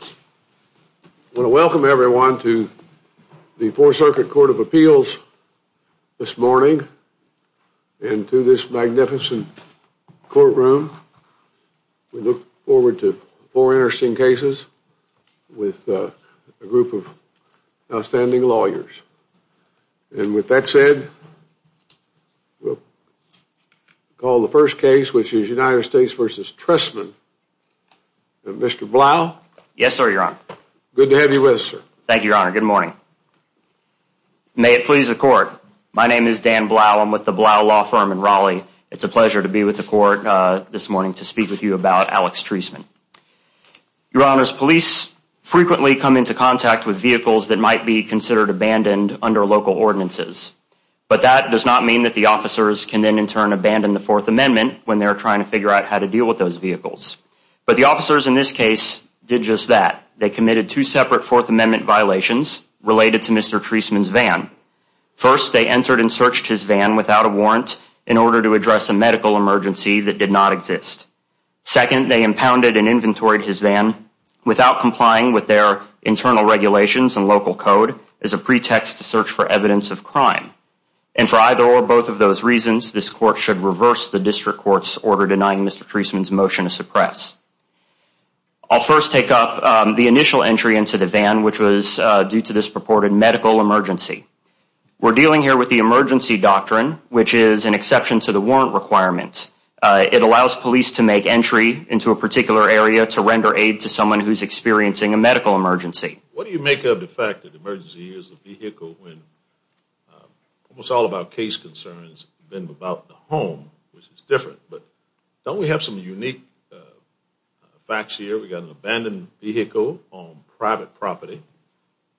I want to welcome everyone to the Four Circuit Court of Appeals this morning and to this magnificent courtroom. We look forward to four interesting cases with a group of outstanding lawyers. And with that said, we'll call the first case, which is United States v. Treisman, Mr. Blau. Yes, sir, your honor. Good to have you with us, sir. Thank you, your honor. Good morning. May it please the court. My name is Dan Blau. I'm with the Blau Law Firm in Raleigh. It's a pleasure to be with the court this morning to speak with you about Alex Treisman. Your honors, police frequently come into contact with vehicles that might be considered abandoned under local ordinances. But that does not mean that the officers can then in turn abandon the Fourth Amendment vehicles. But the officers in this case did just that. They committed two separate Fourth Amendment violations related to Mr. Treisman's van. First, they entered and searched his van without a warrant in order to address a medical emergency that did not exist. Second, they impounded and inventoried his van without complying with their internal regulations and local code as a pretext to search for evidence of crime. And for either or both of those reasons, this court should reverse the district court's order denying Mr. Treisman's motion to suppress. I'll first take up the initial entry into the van, which was due to this purported medical emergency. We're dealing here with the emergency doctrine, which is an exception to the warrant requirements. It allows police to make entry into a particular area to render aid to someone who's experiencing a medical emergency. What do you make of the fact that emergency is a vehicle when almost all of our case concerns have been about the home, which is different? But don't we have some unique facts here? We've got an abandoned vehicle on private property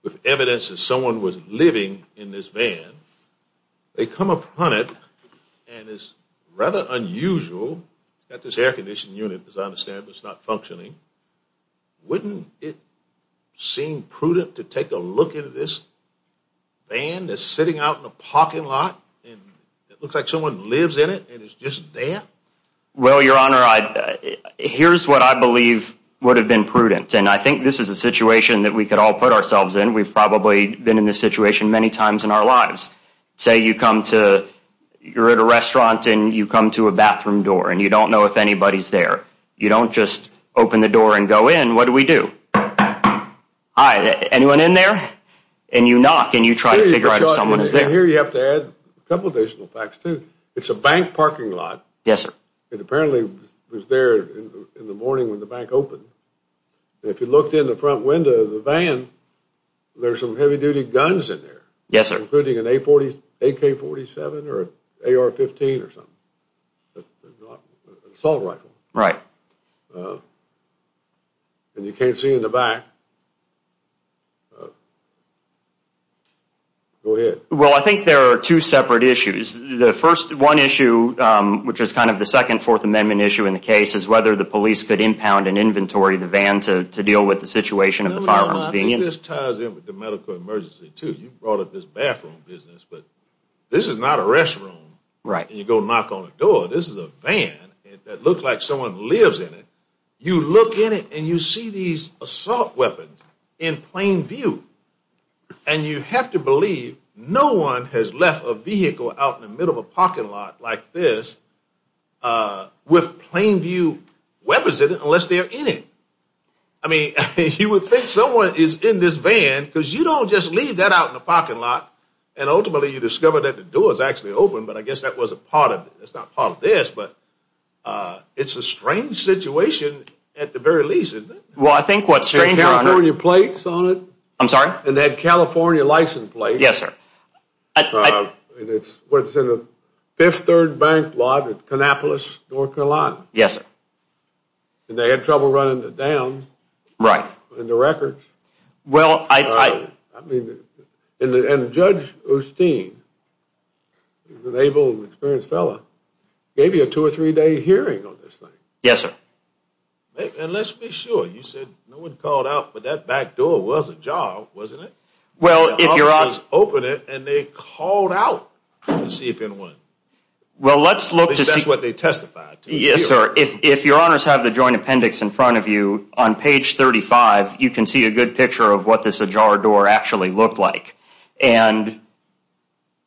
with evidence that someone was living in this van. They come upon it and it's rather unusual that this air-conditioned unit, as I understand it, is a van that's sitting out in a parking lot and it looks like someone lives in it and it's just there? Well, Your Honor, here's what I believe would have been prudent, and I think this is a situation that we could all put ourselves in. We've probably been in this situation many times in our lives. Say you're at a restaurant and you come to a bathroom door and you don't know if anybody's there. You don't just open the door and go in. What do we do? Hi, anyone in there? And you knock and you try to figure out if someone is there. Here you have to add a couple of additional facts, too. It's a bank parking lot. Yes, sir. It apparently was there in the morning when the bank opened. If you looked in the front window of the van, there's some heavy-duty guns in there. Yes, sir. Including an AK-47 or AR-15 or something. An assault rifle. Right. And you can't see in the back. Go ahead. Well, I think there are two separate issues. The first one issue, which is kind of the second Fourth Amendment issue in the case, is whether the police could impound and inventory the van to deal with the situation of the firearms being in it. I think this ties in with the medical emergency, too. You brought up this bathroom business, but this is not a restroom. Right. And you go knock on the door. This is a van that looks like someone lives in it. You look in it and you see these assault weapons in plain view. And you have to believe no one has left a vehicle out in the middle of a parking lot like this with plain view weapons in it unless they're in it. I mean, you would think someone is in this van because you don't just leave that out in a I guess that was a part of it. It's not part of this, but it's a strange situation at the very least, isn't it? Well, I think what's strange, Your plates on it. I'm sorry? And that California license plate. Yes, sir. And it's what's in the Fifth Third Bank lot at Kannapolis North Carolina. Yes, sir. And they had trouble running it down. Right. In the records. Well, I mean, and Judge Osteen, an able and experienced fellow, gave you a two or three day hearing on this thing. Yes, sir. And let's be sure you said no one called out, but that back door was a job, wasn't it? Well, if your eyes open it and they called out to see if anyone. Well, let's look to see what they testified. Yes, sir. If if your honors have the joint appendix in front of you on page thirty five, you can see a good picture of what this ajar door actually looked like. And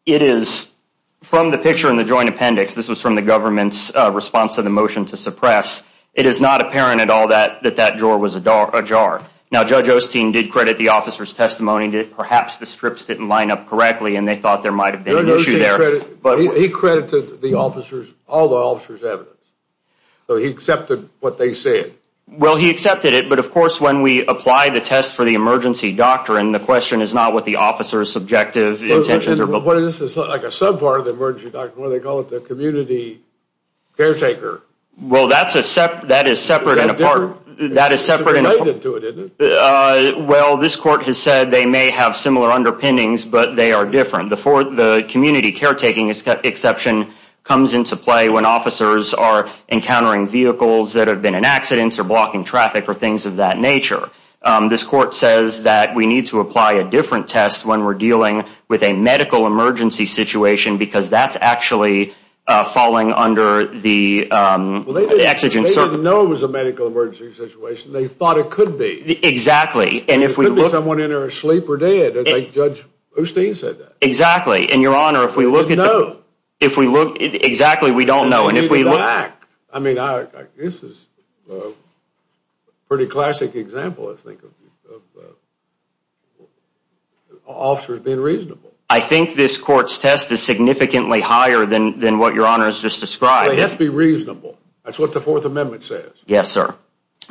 it is from the picture in the joint appendix. This was from the government's response to the motion to suppress. It is not apparent at all that that that door was ajar. Now, Judge Osteen did credit the officer's testimony that perhaps the strips didn't line up correctly and they thought there might have been an issue there. But he credited the officers all the officers evidence. So he accepted what they said. Well, he accepted it. But of course, when we apply the test for the emergency doctor, and the question is not what the officer's subjective intentions are, but what is this like a sub part of the emergency doctor? Well, they call it the community caretaker. Well, that's a step that is separate and apart. That is separate to it. Well, this court has said they may have similar underpinnings, but they are different. The fourth, the community caretaking exception comes into play when officers are encountering vehicles that have been in accidents or blocking traffic or things of that nature. This court says that we need to apply a different test when we're dealing with a medical emergency situation, because that's actually falling under the exigent. They didn't know it was a medical emergency situation. They thought it could be. Exactly. And if we look. It could be someone in there asleep or dead. Judge Osteen said that. Exactly. And your honor, if we look at. No. If we look. Exactly. We don't know. And if we look. I mean, this is a pretty classic example, I think, of officers being reasonable. I think this court's test is significantly higher than than what your honor has just described. It has to be reasonable. That's what the Fourth Amendment says. Yes, sir.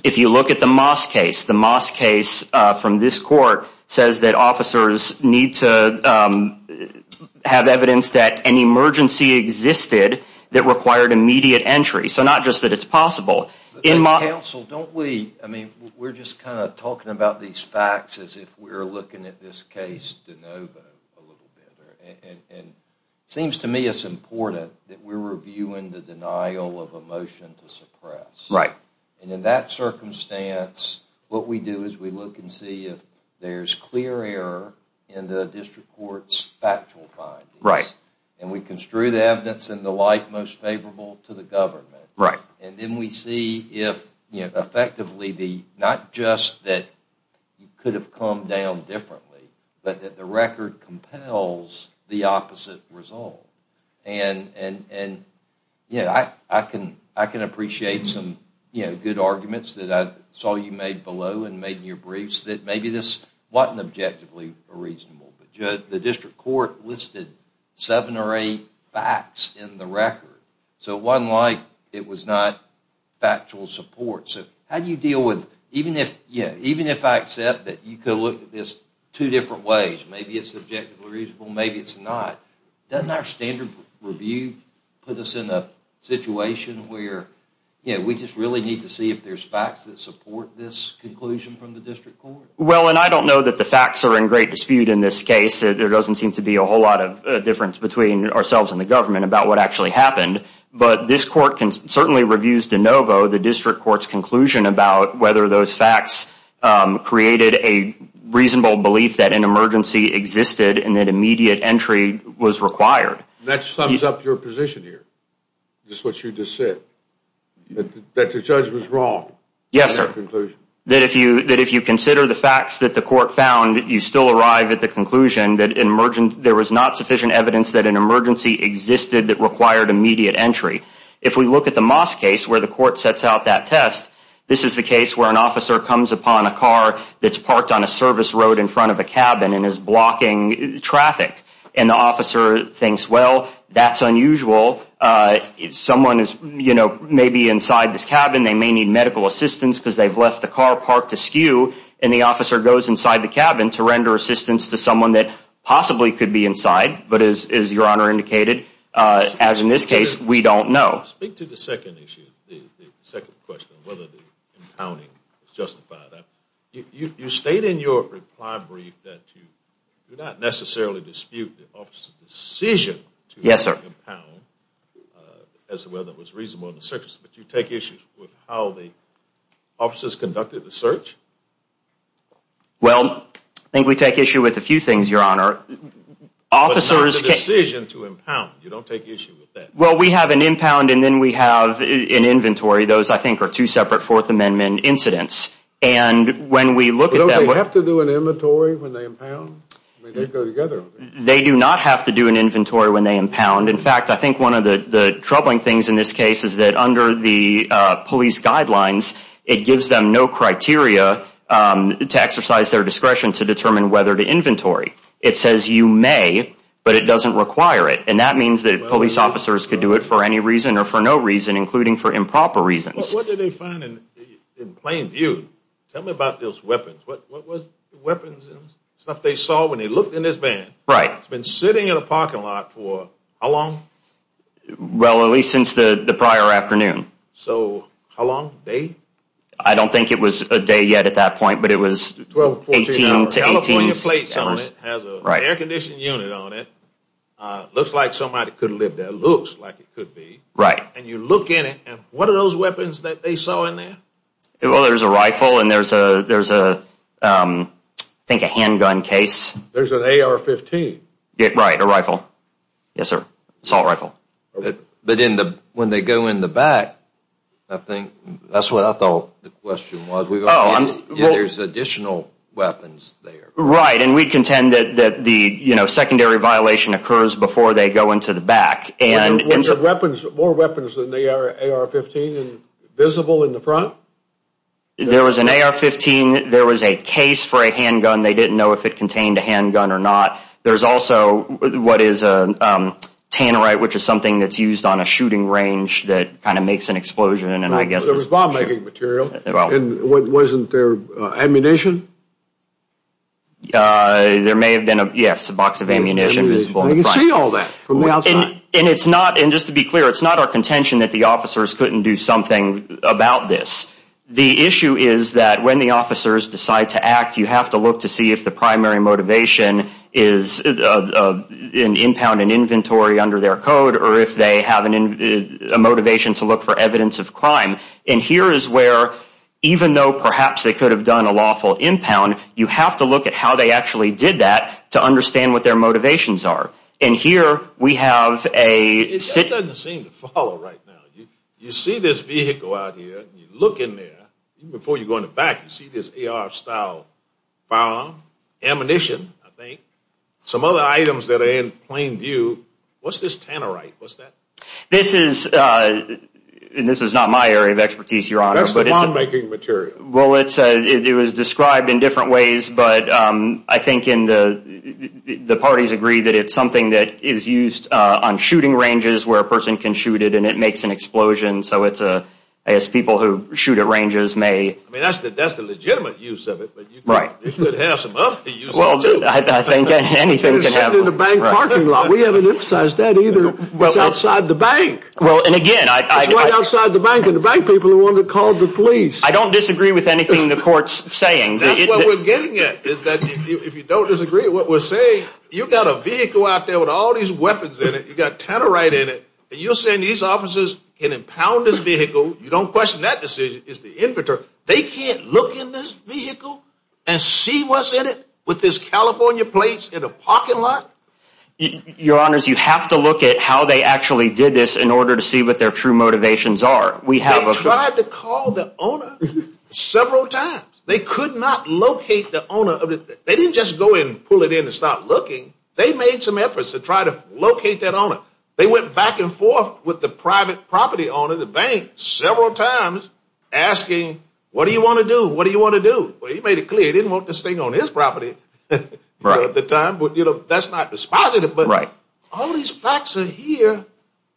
If you look at the Moss case, the Moss case from this court says that officers need to have evidence that an emergency existed that required immediate entry. So not just that it's possible in my counsel, don't we? I mean, we're just kind of talking about these facts as if we're looking at this case to know a little bit. And it seems to me it's important that we're reviewing the denial of a motion to suppress. Right. And in that circumstance, what we do is we look and see if there's clear error in the district court's factual. Right. And we construe the evidence in the light most favorable to the government. Right. And then we see if effectively the not just that could have come down differently, but that the record compels the opposite result. And and and I can I can appreciate some good arguments that I saw you made below and made your briefs that maybe this wasn't objectively reasonable. But the district court listed seven or eight facts in the record. So one like it was not factual support. So how do you deal with even if even if I accept that you could look at this two different ways, maybe it's objectively reasonable, maybe it's not. Doesn't our standard review put us in a situation where we just really need to see if there's facts that support this conclusion from the district court? Well, and I don't know that the facts are in great dispute in this case. There doesn't seem to be a whole lot of difference between ourselves and the government about what actually happened. But this court can certainly reviews de novo the district court's conclusion about whether those facts created a reasonable belief that an emergency existed and that immediate entry was required. That sums up your position here. Just what you just said that the judge was wrong. Yes, sir. That if you that if you consider the facts that the court found, you still arrive at the conclusion that an emergent there was not sufficient evidence that an emergency existed that required immediate entry. If we look at the mosque case where the court sets out that test, this is the case where an officer comes upon a car that's parked on a service road in front of a cabin and is blocking traffic. And the officer thinks, well, that's unusual. Someone is, you know, maybe inside this cabin. They may need medical assistance because they've left the car parked to skew. And the officer goes inside the cabin to render assistance to someone that possibly could be inside. But as your honor indicated, as in this case, we don't know. Speak to the second issue. The second question, whether the impounding justified that you state in your reply brief that you do not necessarily dispute the officer's decision. Yes, sir. As to whether it was reasonable in the circus, but you take issues with how the officers conducted the search. Well, I think we take issue with a few things, your honor. Officers decision to impound. You don't take issue with that. Well, we have an impound and then we have an inventory. Those, I think, are two separate Fourth Amendment incidents. And when we look at that, we have to do an inventory when they impound. They go together. They do not have to do an inventory when they impound. In fact, I think one of the troubling things in this case is that under the police guidelines, it gives them no criteria to exercise their discretion to determine whether to inventory. It says you may, but it doesn't require it. And that means that police officers could do it for any reason or for no reason, including for improper reasons. What did they find in plain view? Tell me about those weapons. What was the weapons and stuff they saw when they looked in this van? Right. It's been sitting in a parking lot for how long? Well, at least since the prior afternoon. So how long? A day? I don't think it was a day yet at that point, but it was 12 to 18 hours. Has a right air conditioning unit on it. Looks like somebody could live there. Looks like it could be. Right. And you look in it. And what are those weapons that they saw in there? Well, there's a rifle and there's a, there's a, I think a handgun case. There's an AR-15. Right. A rifle. Yes, sir. Assault rifle. But in the, when they go in the back, I think that's what I thought the question was. Oh, I'm sorry. Yeah, there's additional weapons there. Right. And we contend that the, you know, secondary violation occurs before they go into the back. Were there weapons, more weapons than the AR-15 visible in the front? There was an AR-15. There was a case for a handgun. They didn't know if it contained a handgun or not. There's also what is a Tannerite, which is something that's used on a shooting range that kind of makes an explosion. And I guess it was bomb-making material. And wasn't there ammunition? There may have been a, yes, a box of ammunition visible in the front. I can see all that from the outside. And it's not, and just to be clear, it's not our contention that the officers couldn't do something about this. The issue is that when the officers decide to act, you have to look to see if the primary motivation is an impound and inventory under their code, or if they have a motivation to look for evidence of crime. And here is where, even though perhaps they could have done a lawful impound, you have to look at how they actually did that to understand what their motivations are. And here we have a... It doesn't seem to follow right now. You see this vehicle out here, and you look in there, even before you go in the back, you see this AR-style firearm, ammunition, I think, some other items that are in plain view. What's this Tannerite? What's that? This is, and this is not my area of expertise, Your Honor. That's the bomb-making material. Well, it was described in different ways, but I think the parties agree that it's something that is used on shooting ranges, where a person can shoot it, and it makes an explosion. So it's, I guess, people who shoot at ranges may... I mean, that's the legitimate use of it, but you could have some other use of it, too. I think anything can happen. It was set in a bank parking lot. We haven't emphasized that either. It's outside the bank. Well, and again, I... It's right outside the bank, and the bank people are the ones that called the police. I don't disagree with anything the court's saying. That's what we're getting at, is that if you don't disagree with what we're saying, you've got a vehicle out there with all these weapons in it, you've got Tannerite in it, and you're saying these officers can impound this vehicle. You don't question that decision. It's the inventor. They can't look in this vehicle and see what's in it with this California plates in a parking lot? Your Honors, you have to look at how they actually did this in order to see what their true motivations are. They tried to call the owner several times. They could not locate the owner of it. They didn't just go in, pull it in, and start looking. They made some efforts to try to locate that owner. They went back and forth with the private property owner of the bank several times, asking, what do you want to do? What do you want to do? Well, he made it clear he didn't want this thing on his property at the time, but that's not dispositive. All these facts are here,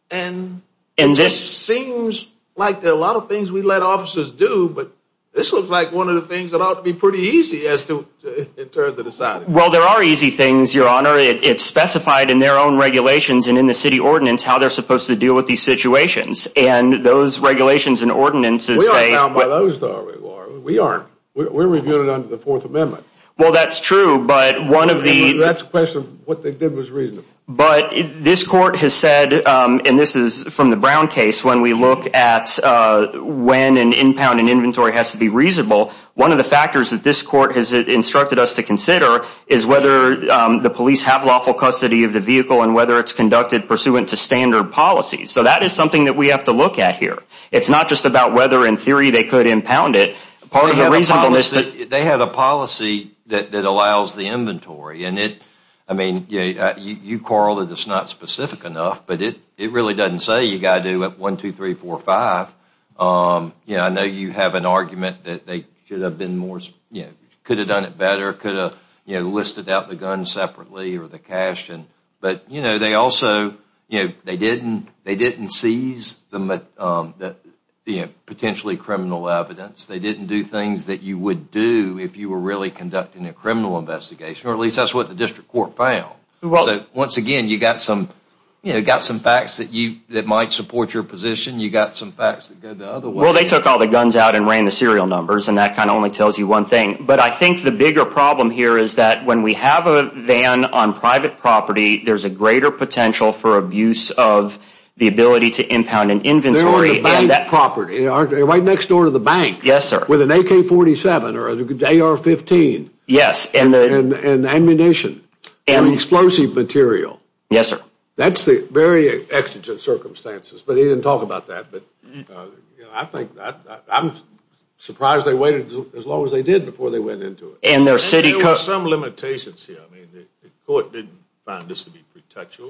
and it just seems like there are a lot of things we let officers do, but this looks like one of the things that ought to be pretty easy in terms of deciding. Well, there are easy things, Your Honor. It's specified in their own regulations and in the city ordinance how they're supposed to deal with these situations, and those regulations and ordinances say— We aren't bound by those, though, are we, Warren? We aren't. We're reviewing it under the Fourth Amendment. Well, that's true, but one of the— That's a question of what they did was reasonable. But this Court has said, and this is from the Brown case, when we look at when an impound and inventory has to be reasonable, one of the factors that this Court has instructed us to consider is whether the police have lawful custody of the vehicle and whether it's conducted pursuant to standard policy. So that is something that we have to look at here. It's not just about whether, in theory, they could impound it. Part of the reasonableness— They had a policy that allows the inventory, and it— I mean, you quarrel that it's not specific enough, but it really doesn't say you've got to do it 1, 2, 3, 4, 5. You know, I know you have an argument that they should have been more— could have done it better, could have listed out the guns separately or the cash, but, you know, they also— You know, they didn't seize the potentially criminal evidence. They didn't do things that you would do if you were really conducting a criminal investigation, or at least that's what the District Court found. So, once again, you've got some facts that might support your position. You've got some facts that go the other way. Well, they took all the guns out and ran the serial numbers, and that kind of only tells you one thing. But I think the bigger problem here is that when we have a van on private property, there's a greater potential for abuse of the ability to impound an inventory— They're on the bank property. They're right next door to the bank. Yes, sir. With an AK-47 or an AR-15. Yes. And ammunition and explosive material. Yes, sir. That's the very exigent circumstances. But he didn't talk about that, but, you know, I think— I'm surprised they waited as long as they did before they went into it. And their city— There were some limitations here. I mean, the court didn't find this to be pretentious.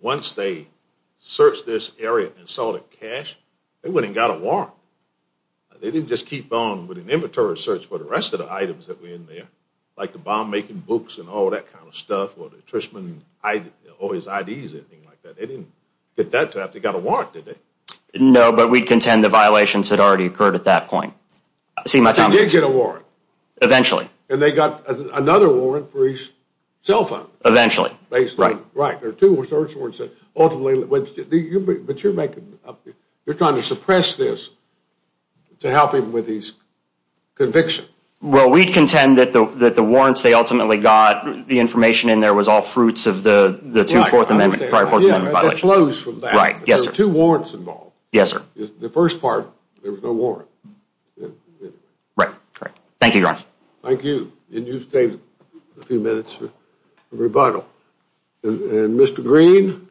Once they searched this area and saw the cash, they wouldn't have got a warrant. They didn't just keep on with an inventory search for the rest of the items that were in there, like the bomb-making books and all that kind of stuff, or the Trishman—or his IDs, anything like that. They didn't get that to have to get a warrant, did they? No, but we contend the violations had already occurred at that point. See, my time is up. They did get a warrant. Eventually. And they got another warrant for his cell phone. Eventually. Based on— Right. There are two search warrants that ultimately— But you're making—you're trying to suppress this to help him with his conviction. Well, we contend that the warrants they ultimately got, the information in there was all fruits of the 2nd and 4th Amendment— Prior 4th Amendment violation. They closed from that. Right. Yes, sir. There were two warrants involved. Yes, sir. The first part, there was no warrant. Right. Thank you, Your Honor. Thank you. And you stay a few minutes for rebuttal. And Mr. Green?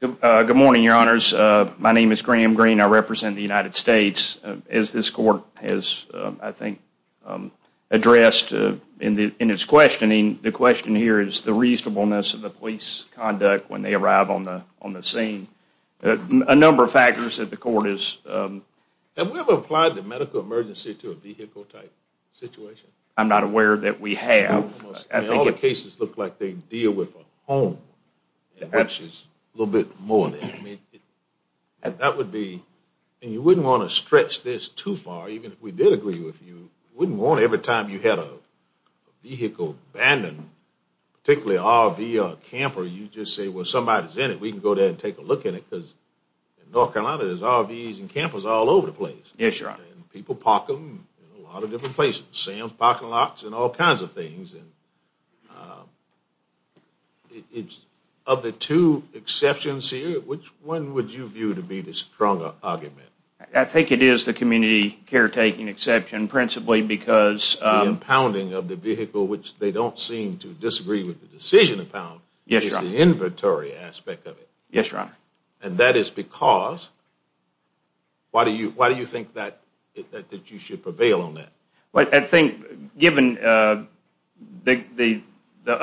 Good morning, Your Honors. My name is Graham Green. I represent the United States. As this court has, I think, addressed in its questioning, the question here is the reasonableness of the police conduct when they arrive on the scene. A number of factors that the court is— Have we ever applied the medical emergency to a vehicle-type situation? I'm not aware that we have. All the cases look like they deal with a home, which is a little bit more than that. And that would be— And you wouldn't want to stretch this too far, even if we did agree with you. You wouldn't want to, every time you had a vehicle abandoned, particularly an RV or a camper, you just say, well, somebody's in it, we can go there and take a look at it, because in North Carolina, there's RVs and campers all over the place. Yes, Your Honor. People park them in a lot of different places. Sam's Parking Lots and all kinds of things, and it's— Of the two exceptions here, which one would you view to be the stronger argument? I think it is the community caretaking exception, principally because— The impounding of the vehicle, which they don't seem to disagree with the decision upon— Yes, Your Honor. —is the inventory aspect of it. Yes, Your Honor. And that is because— Why do you think that you should prevail on that? I think, given the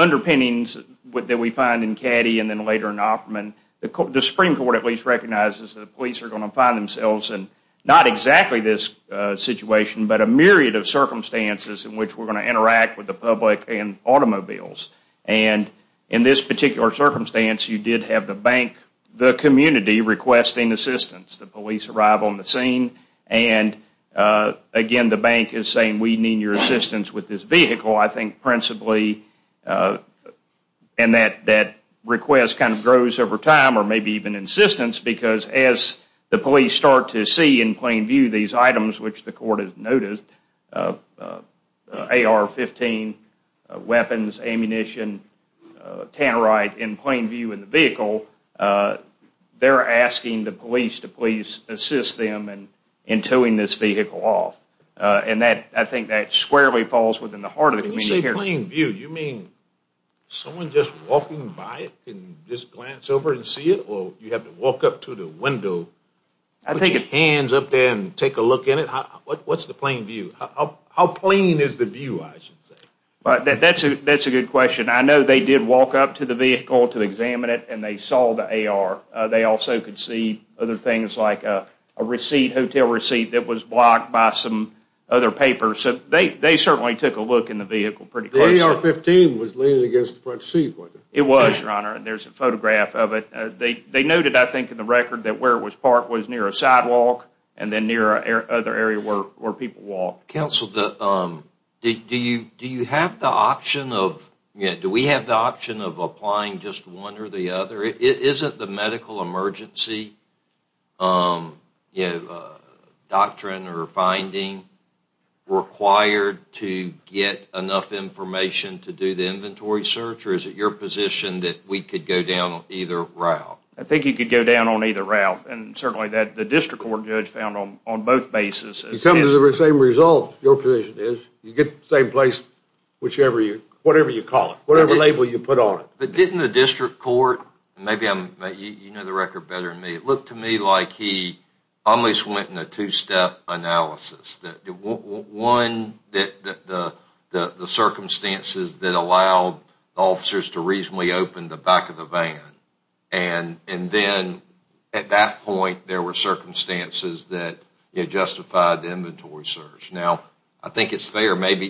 underpinnings that we find in Caddy and then later in Offerman, the Supreme Court at least recognizes that the police are going to find themselves in not exactly this situation, but a myriad of circumstances in which we're going to interact with the public and automobiles. And in this particular circumstance, you did have the bank, the community, requesting assistance. The police arrive on the scene, and again, the bank is saying, we need your assistance with this vehicle. I think principally— And that request kind of grows over time, or maybe even insistence, because as the police start to see in plain view these items, which the court has noted— AR-15 weapons, ammunition, tannerite in plain view in the vehicle— they're asking the police to please assist them in towing this vehicle off. And I think that squarely falls within the heart of the community. When you say plain view, you mean someone just walking by it can just glance over and see it, or you have to walk up to the window, put your hands up there and take a look in it? What's the plain view? How plain is the view, I should say? That's a good question. I know they did walk up to the vehicle to examine it, and they saw the AR. They also could see other things like a hotel receipt that was blocked by some other papers. So they certainly took a look in the vehicle pretty closely. The AR-15 was leaning against the front seat, wasn't it? It was, Your Honor, and there's a photograph of it. They noted, I think, in the record that where it was parked was near a sidewalk, and then near another area where people walked. Counsel, do you have the option of— Isn't the medical emergency doctrine or finding required to get enough information to do the inventory search, or is it your position that we could go down either route? I think you could go down on either route, and certainly the district court judge found on both bases— It comes to the same result, your position is. You get the same place, whatever you call it, whatever label you put on it. But didn't the district court— Maybe you know the record better than me. It looked to me like he almost went in a two-step analysis. One, the circumstances that allowed officers to reasonably open the back of the van, and then at that point there were circumstances that justified the inventory search. Now, I think it's fair. Maybe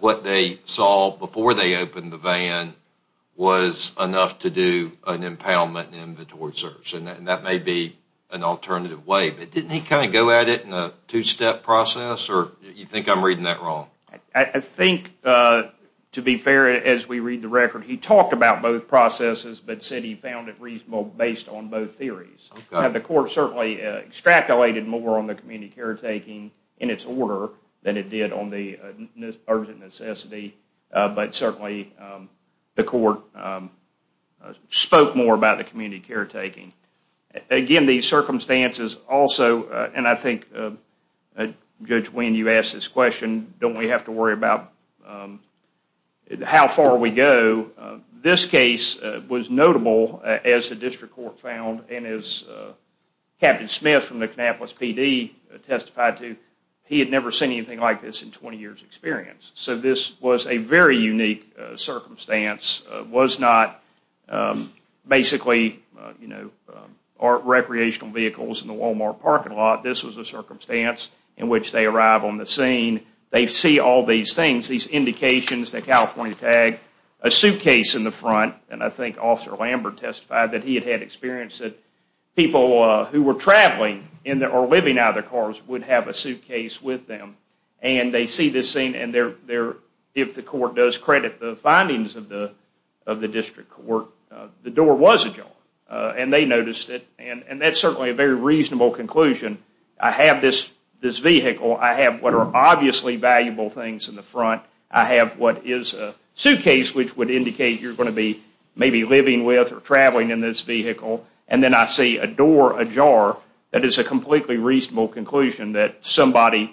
what they saw before they opened the van was enough to do an impoundment and inventory search, and that may be an alternative way. But didn't he kind of go at it in a two-step process, or you think I'm reading that wrong? I think, to be fair, as we read the record, he talked about both processes, but said he found it reasonable based on both theories. The court certainly extrapolated more on the community caretaking in its order than it did on the urgent necessity, but certainly the court spoke more about the community caretaking. Again, these circumstances also— And I think, Judge Winn, you asked this question, don't we have to worry about how far we go? This case was notable, as the district court found, and as Captain Smith from the Kannapolis PD testified to, he had never seen anything like this in 20 years' experience. So this was a very unique circumstance. It was not basically recreational vehicles in the Walmart parking lot. This was a circumstance in which they arrive on the scene, they see all these things, these indications, the California tag, a suitcase in the front, and I think Officer Lambert testified that he had had experience that people who were traveling or living out of their cars would have a suitcase with them, and they see this scene, and if the court does credit the findings of the district court, the door was ajar, and they noticed it, and that's certainly a very reasonable conclusion. I have this vehicle. I have what are obviously valuable things in the front. I have what is a suitcase, which would indicate you're going to be maybe living with or traveling in this vehicle, and then I see a door ajar. That is a completely reasonable conclusion that somebody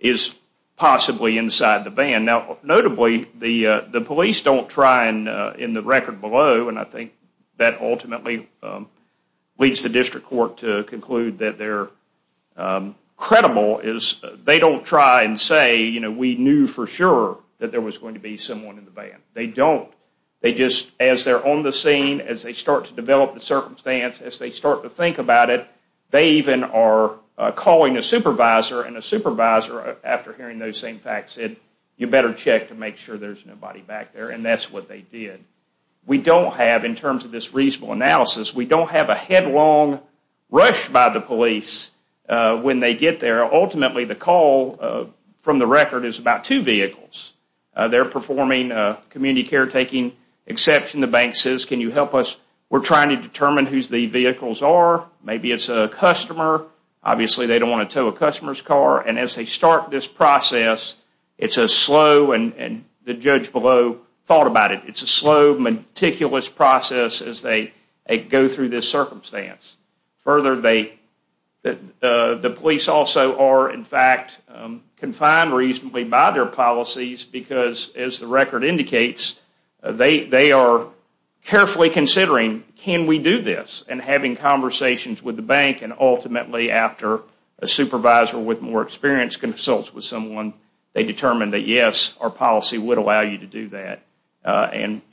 is possibly inside the van. Now, notably, the police don't try, and in the record below, and I think that ultimately leads the district court to conclude that they're credible, is they don't try and say, you know, we knew for sure that there was going to be someone in the van. They don't. They just, as they're on the scene, as they start to develop the circumstance, as they start to think about it, they even are calling a supervisor, and a supervisor, after hearing those same facts, said you better check to make sure there's nobody back there, and that's what they did. We don't have, in terms of this reasonable analysis, we don't have a headlong rush by the police when they get there. Ultimately, the call from the record is about two vehicles. They're performing a community caretaking exception. The bank says, can you help us? We're trying to determine whose the vehicles are. Maybe it's a customer. Obviously, they don't want to tow a customer's car, and as they start this process, it's a slow, and the judge below thought about it, it's a slow, meticulous process as they go through this circumstance. Further, the police also are, in fact, confined reasonably by their policies, because, as the record indicates, they are carefully considering, can we do this, and having conversations with the bank, and ultimately, after a supervisor with more experience consults with someone, they determine that, yes, our policy would allow you to do that,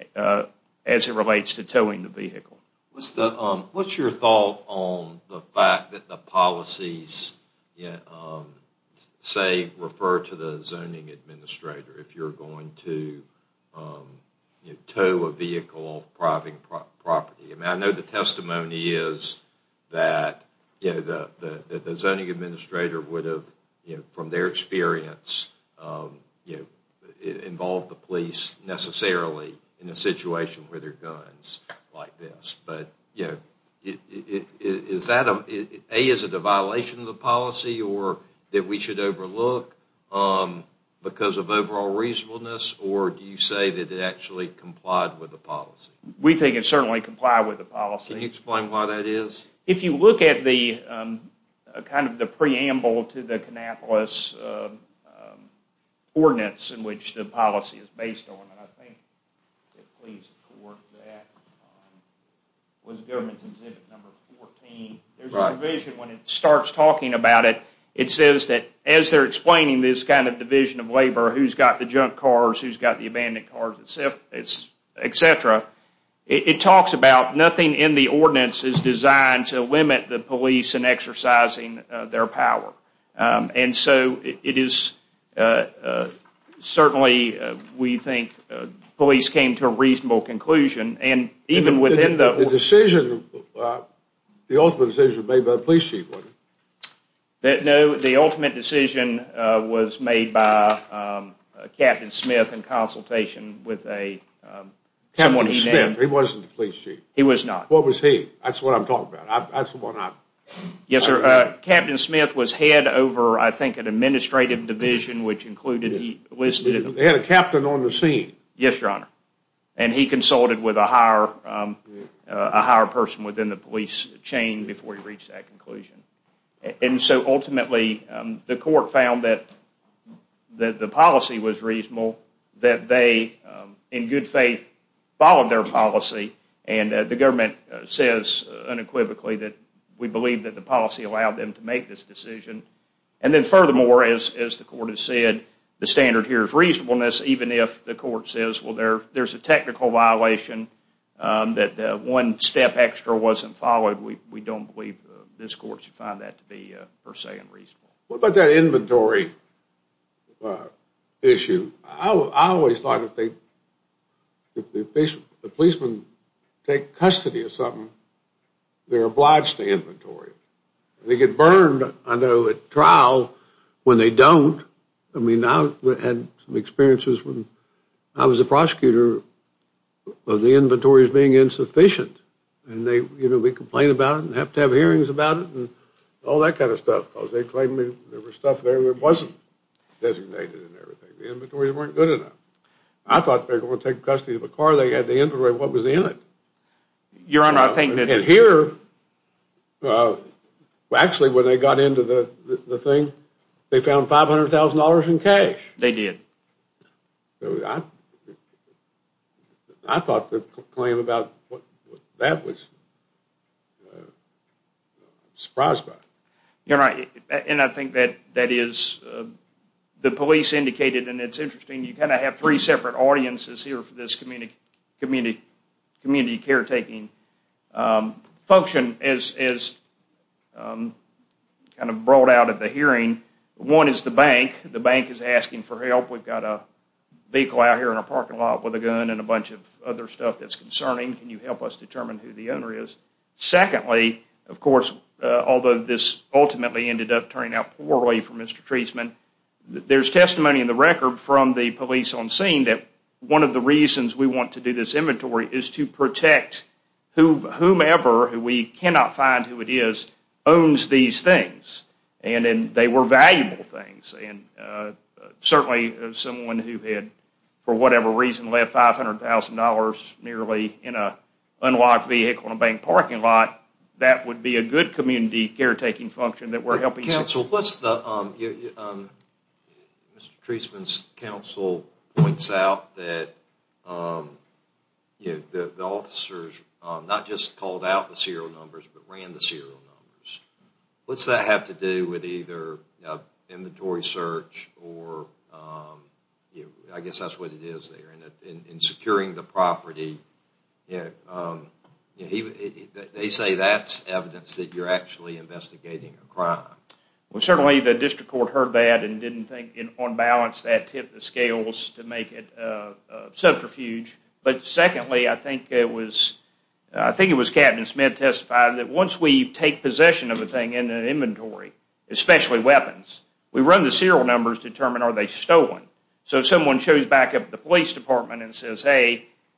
as it relates to towing the vehicle. What's your thought on the fact that the policies, say, refer to the zoning administrator, if you're going to tow a vehicle off private property? I know the testimony is that the zoning administrator would have, from their experience, involved the police necessarily in a situation where there are guns like this, but, you know, is that, A, is it a violation of the policy, or that we should overlook because of overall reasonableness, or do you say that it actually complied with the policy? We think it certainly complied with the policy. Can you explain why that is? If you look at the, kind of the preamble to the Kannapolis ordinance in which the policy is based on, and I think it please the court that, was government's exhibit number 14, there's a provision when it starts talking about it, it says that as they're explaining this kind of division of labor, who's got the junk cars, who's got the abandoned cars, etc., it talks about nothing in the ordinance is designed to limit the police in exercising their power, and so it is certainly, we think, police came to a reasonable conclusion, and even within the, The decision, the ultimate decision was made by the police chief, wasn't it? No, the ultimate decision was made by Captain Smith in consultation with a, Captain Smith, he wasn't the police chief. He was not. What was he? That's what I'm talking about. That's the one I, Yes, sir. Captain Smith was head over, I think, an administrative division, which included, he listed, They had a captain on the scene. Yes, your honor, and he consulted with a higher, a higher person within the police chain before he reached that conclusion, and so ultimately the court found that the policy was reasonable, that they, in good faith, followed their policy, and the government says, unequivocally, that we believe that the policy allowed them to make this decision, and then furthermore, as the court has said, the standard here is reasonableness, even if the court says, well, there's a technical violation that one step extra wasn't followed, we don't believe this court should find that to be, per se, unreasonable. What about that inventory issue? I always thought if they, if the policemen take custody of something, they're obliged to inventory. They get burned, I know, at trial, when they don't. I mean, I had some experiences when, I was a prosecutor, of the inventories being insufficient, and they, you know, we complain about it, and have to have hearings about it, and all that kind of stuff, because they claimed there was stuff there that wasn't designated and everything. The inventories weren't good enough. I thought they were going to take custody of a car, they had the inventory of what was in it. Your Honor, I think that- And here, well, actually, when they got into the thing, they found $500,000 in cash. They did. So I, I thought the claim about what that was, surprised by it. Your Honor, and I think that that is, the police indicated, and it's interesting, you kind of have three separate audiences here for this community caretaking function, as kind of brought out at the hearing. One is the bank. The bank is asking for help. We've got a vehicle out here in our parking lot with a gun, and a bunch of other stuff that's concerning. Can you help us determine who the owner is? Secondly, of course, although this ultimately ended up turning out poorly for Mr. Treisman, there's testimony in the record from the police on scene that one of the reasons we want to do this inventory is to protect whomever, who we cannot find who it is, owns these things. And they were valuable things. Certainly, someone who had, for whatever reason, left $500,000 nearly in an unlocked vehicle in a bank parking lot, that would be a good community caretaking function that we're helping... Counsel, what's the... Mr. Treisman's counsel points out that the officers not just called out the serial numbers, but ran the serial numbers. What's that have to do with either inventory search, or, I guess that's what it is there, in securing the property? They say that's evidence that you're actually investigating a crime. Well, certainly the district court heard that and didn't think, on balance, that tip the scales to make it subterfuge. But secondly, I think it was... I think it was Captain Smith testified that once we take possession of a thing in an inventory, especially weapons, we run the serial numbers to determine are they stolen. So if someone shows back up at the police department and says,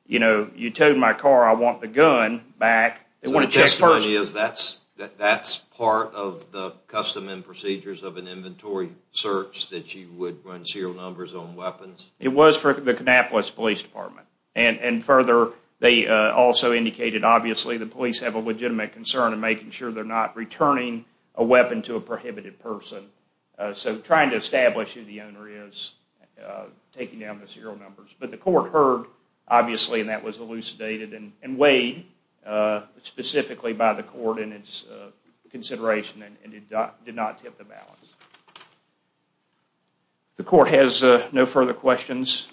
you know, you towed my car, I want the gun back... The testimony is that's part of the custom and procedures of an inventory search, that you would run serial numbers on weapons? It was for the Kannapolis Police Department. And further, they also indicated, obviously, the police have a legitimate concern in making sure they're not returning a weapon to a prohibited person. So trying to establish who the owner is, taking down the serial numbers. But the court heard, obviously, and that was elucidated and weighed specifically by the court in its consideration and did not tip the balance. The court has no further questions.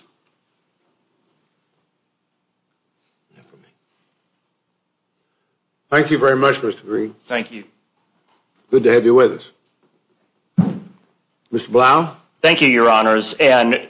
Thank you very much, Mr. Green. Thank you. Good to have you with us. Mr. Blau? Thank you, Your Honors. And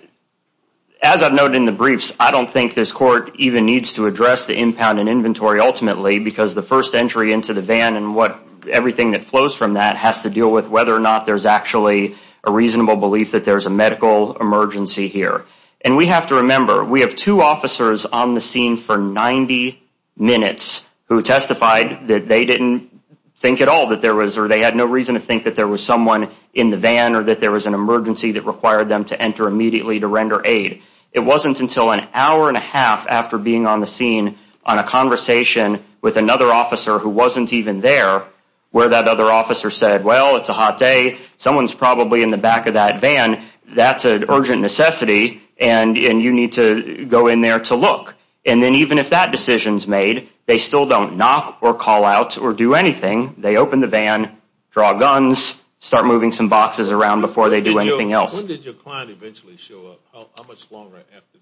as I've noted in the briefs, I don't think this court even needs to address the impound and inventory ultimately because the first entry into the van and everything that flows from that has to deal with whether or not there's actually a reasonable belief that there's a medical emergency here. And we have to remember, we have two officers on the scene for 90 minutes who testified that they didn't think at all that there was or they had no reason to think that there was someone in the van or that there was an emergency that required them to enter immediately to render aid. It wasn't until an hour and a half after being on the scene on a conversation with another officer who wasn't even there where that other officer said, well, it's a hot day. Someone's probably in the back of that van. That's an urgent necessity and you need to go in there to look. And then even if that decision's made, they still don't knock or call out or do anything. They open the van, draw guns, start moving some boxes around before they do anything else. When did your client eventually show up? How much longer after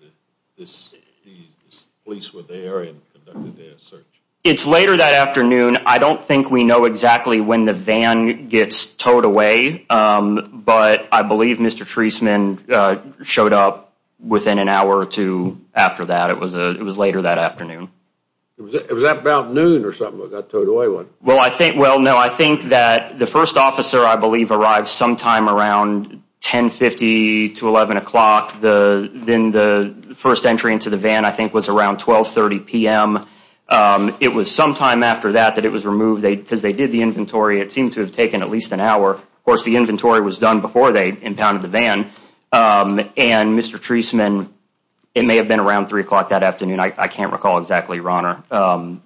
the police were there and conducted their search? It's later that afternoon. I don't think we know exactly when the van gets towed away, but I believe Mr. Treisman showed up within an hour or two after that. It was later that afternoon. Was that about noon or something when it got towed away? Well, no, I think that the first officer, I believe, arrived sometime around 10.50 to 11 o'clock. Then the first entry into the van, I think, was around 12.30 p.m. It was sometime after that that it was removed because they did the inventory. It seemed to have taken at least an hour. Of course, the inventory was done before they impounded the van. And Mr. Treisman, it may have been around 3 o'clock that afternoon. I can't recall exactly, Your Honor.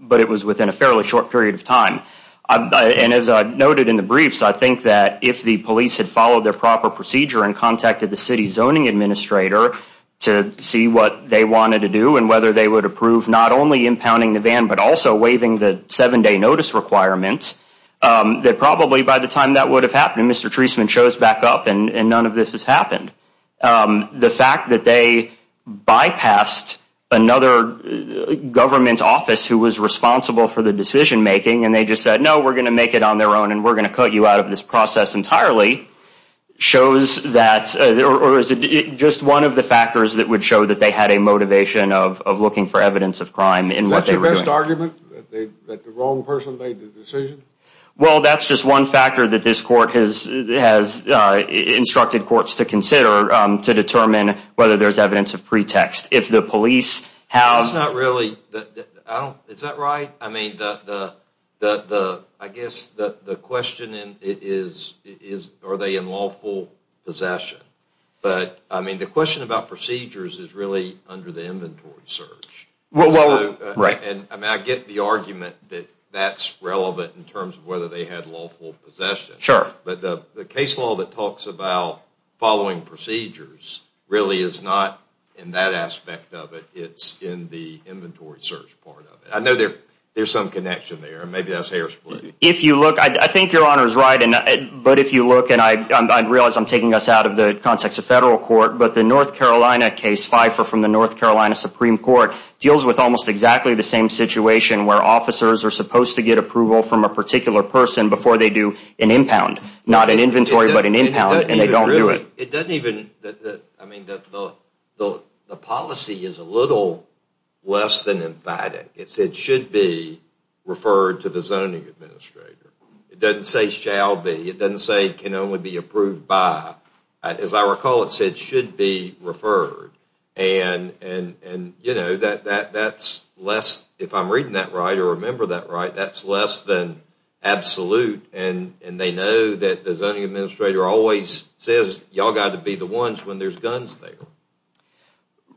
But it was within a fairly short period of time. And as I noted in the briefs, I think that if the police had followed their proper procedure and contacted the city's zoning administrator to see what they wanted to do and whether they would approve not only impounding the van, but also waiving the seven-day notice requirements, that probably by the time that would have happened, Mr. Treisman shows back up and none of this has happened. The fact that they bypassed another government office who was responsible for the decision-making and they just said, no, we're going to make it on their own and we're going to cut you out of this process entirely, shows that, or is it just one of the factors that would show that they had a motivation of looking for evidence of crime in what they were doing? Is that your best argument? That the wrong person made the decision? Well, that's just one factor that this court has instructed courts to consider to determine whether there's evidence of pretext. If the police have... That's not really... Is that right? I mean, I guess the question is, are they in lawful possession? But, I mean, the question about procedures is really under the inventory search. Well, right. And I get the argument that that's relevant in terms of whether they had lawful possession. Sure. But the case law that talks about following procedures really is not in that aspect of it. It's in the inventory search part of it. I know there's some connection there, and maybe that's Harris's belief. If you look, I think your Honor is right, but if you look, and I realize I'm taking us out of the context of federal court, but the North Carolina case, Fifer from the North Carolina Supreme Court, deals with almost exactly the same situation where officers are supposed to get approval from a particular person before they do an impound. Not an inventory, but an impound, and they don't do it. It doesn't even... I mean, the policy is a little less than inviting. It should be referred to the zoning administrator. It doesn't say shall be. It doesn't say can only be approved by. As I recall, it said should be referred. And, you know, that's less, if I'm reading that right or remember that right, that's less than absolute, and they know that the zoning administrator always says, y'all got to be the ones when there's guns there.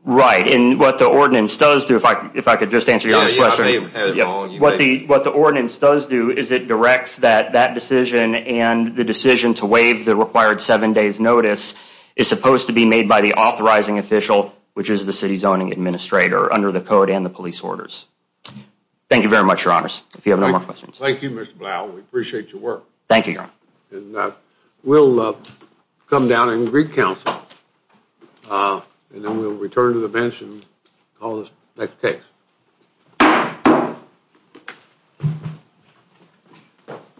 Right, and what the ordinance does do, if I could just answer your first question, what the ordinance does do is it directs that that decision and the decision to waive the required seven days notice is supposed to be made by the authorizing official, which is the city zoning administrator under the code and the police orders. Thank you very much, your honors. If you have no more questions. Thank you, Mr. Blau. We appreciate your work. Thank you, your honor. And we'll come down and greet counsel, and then we'll return to the bench and call this next case.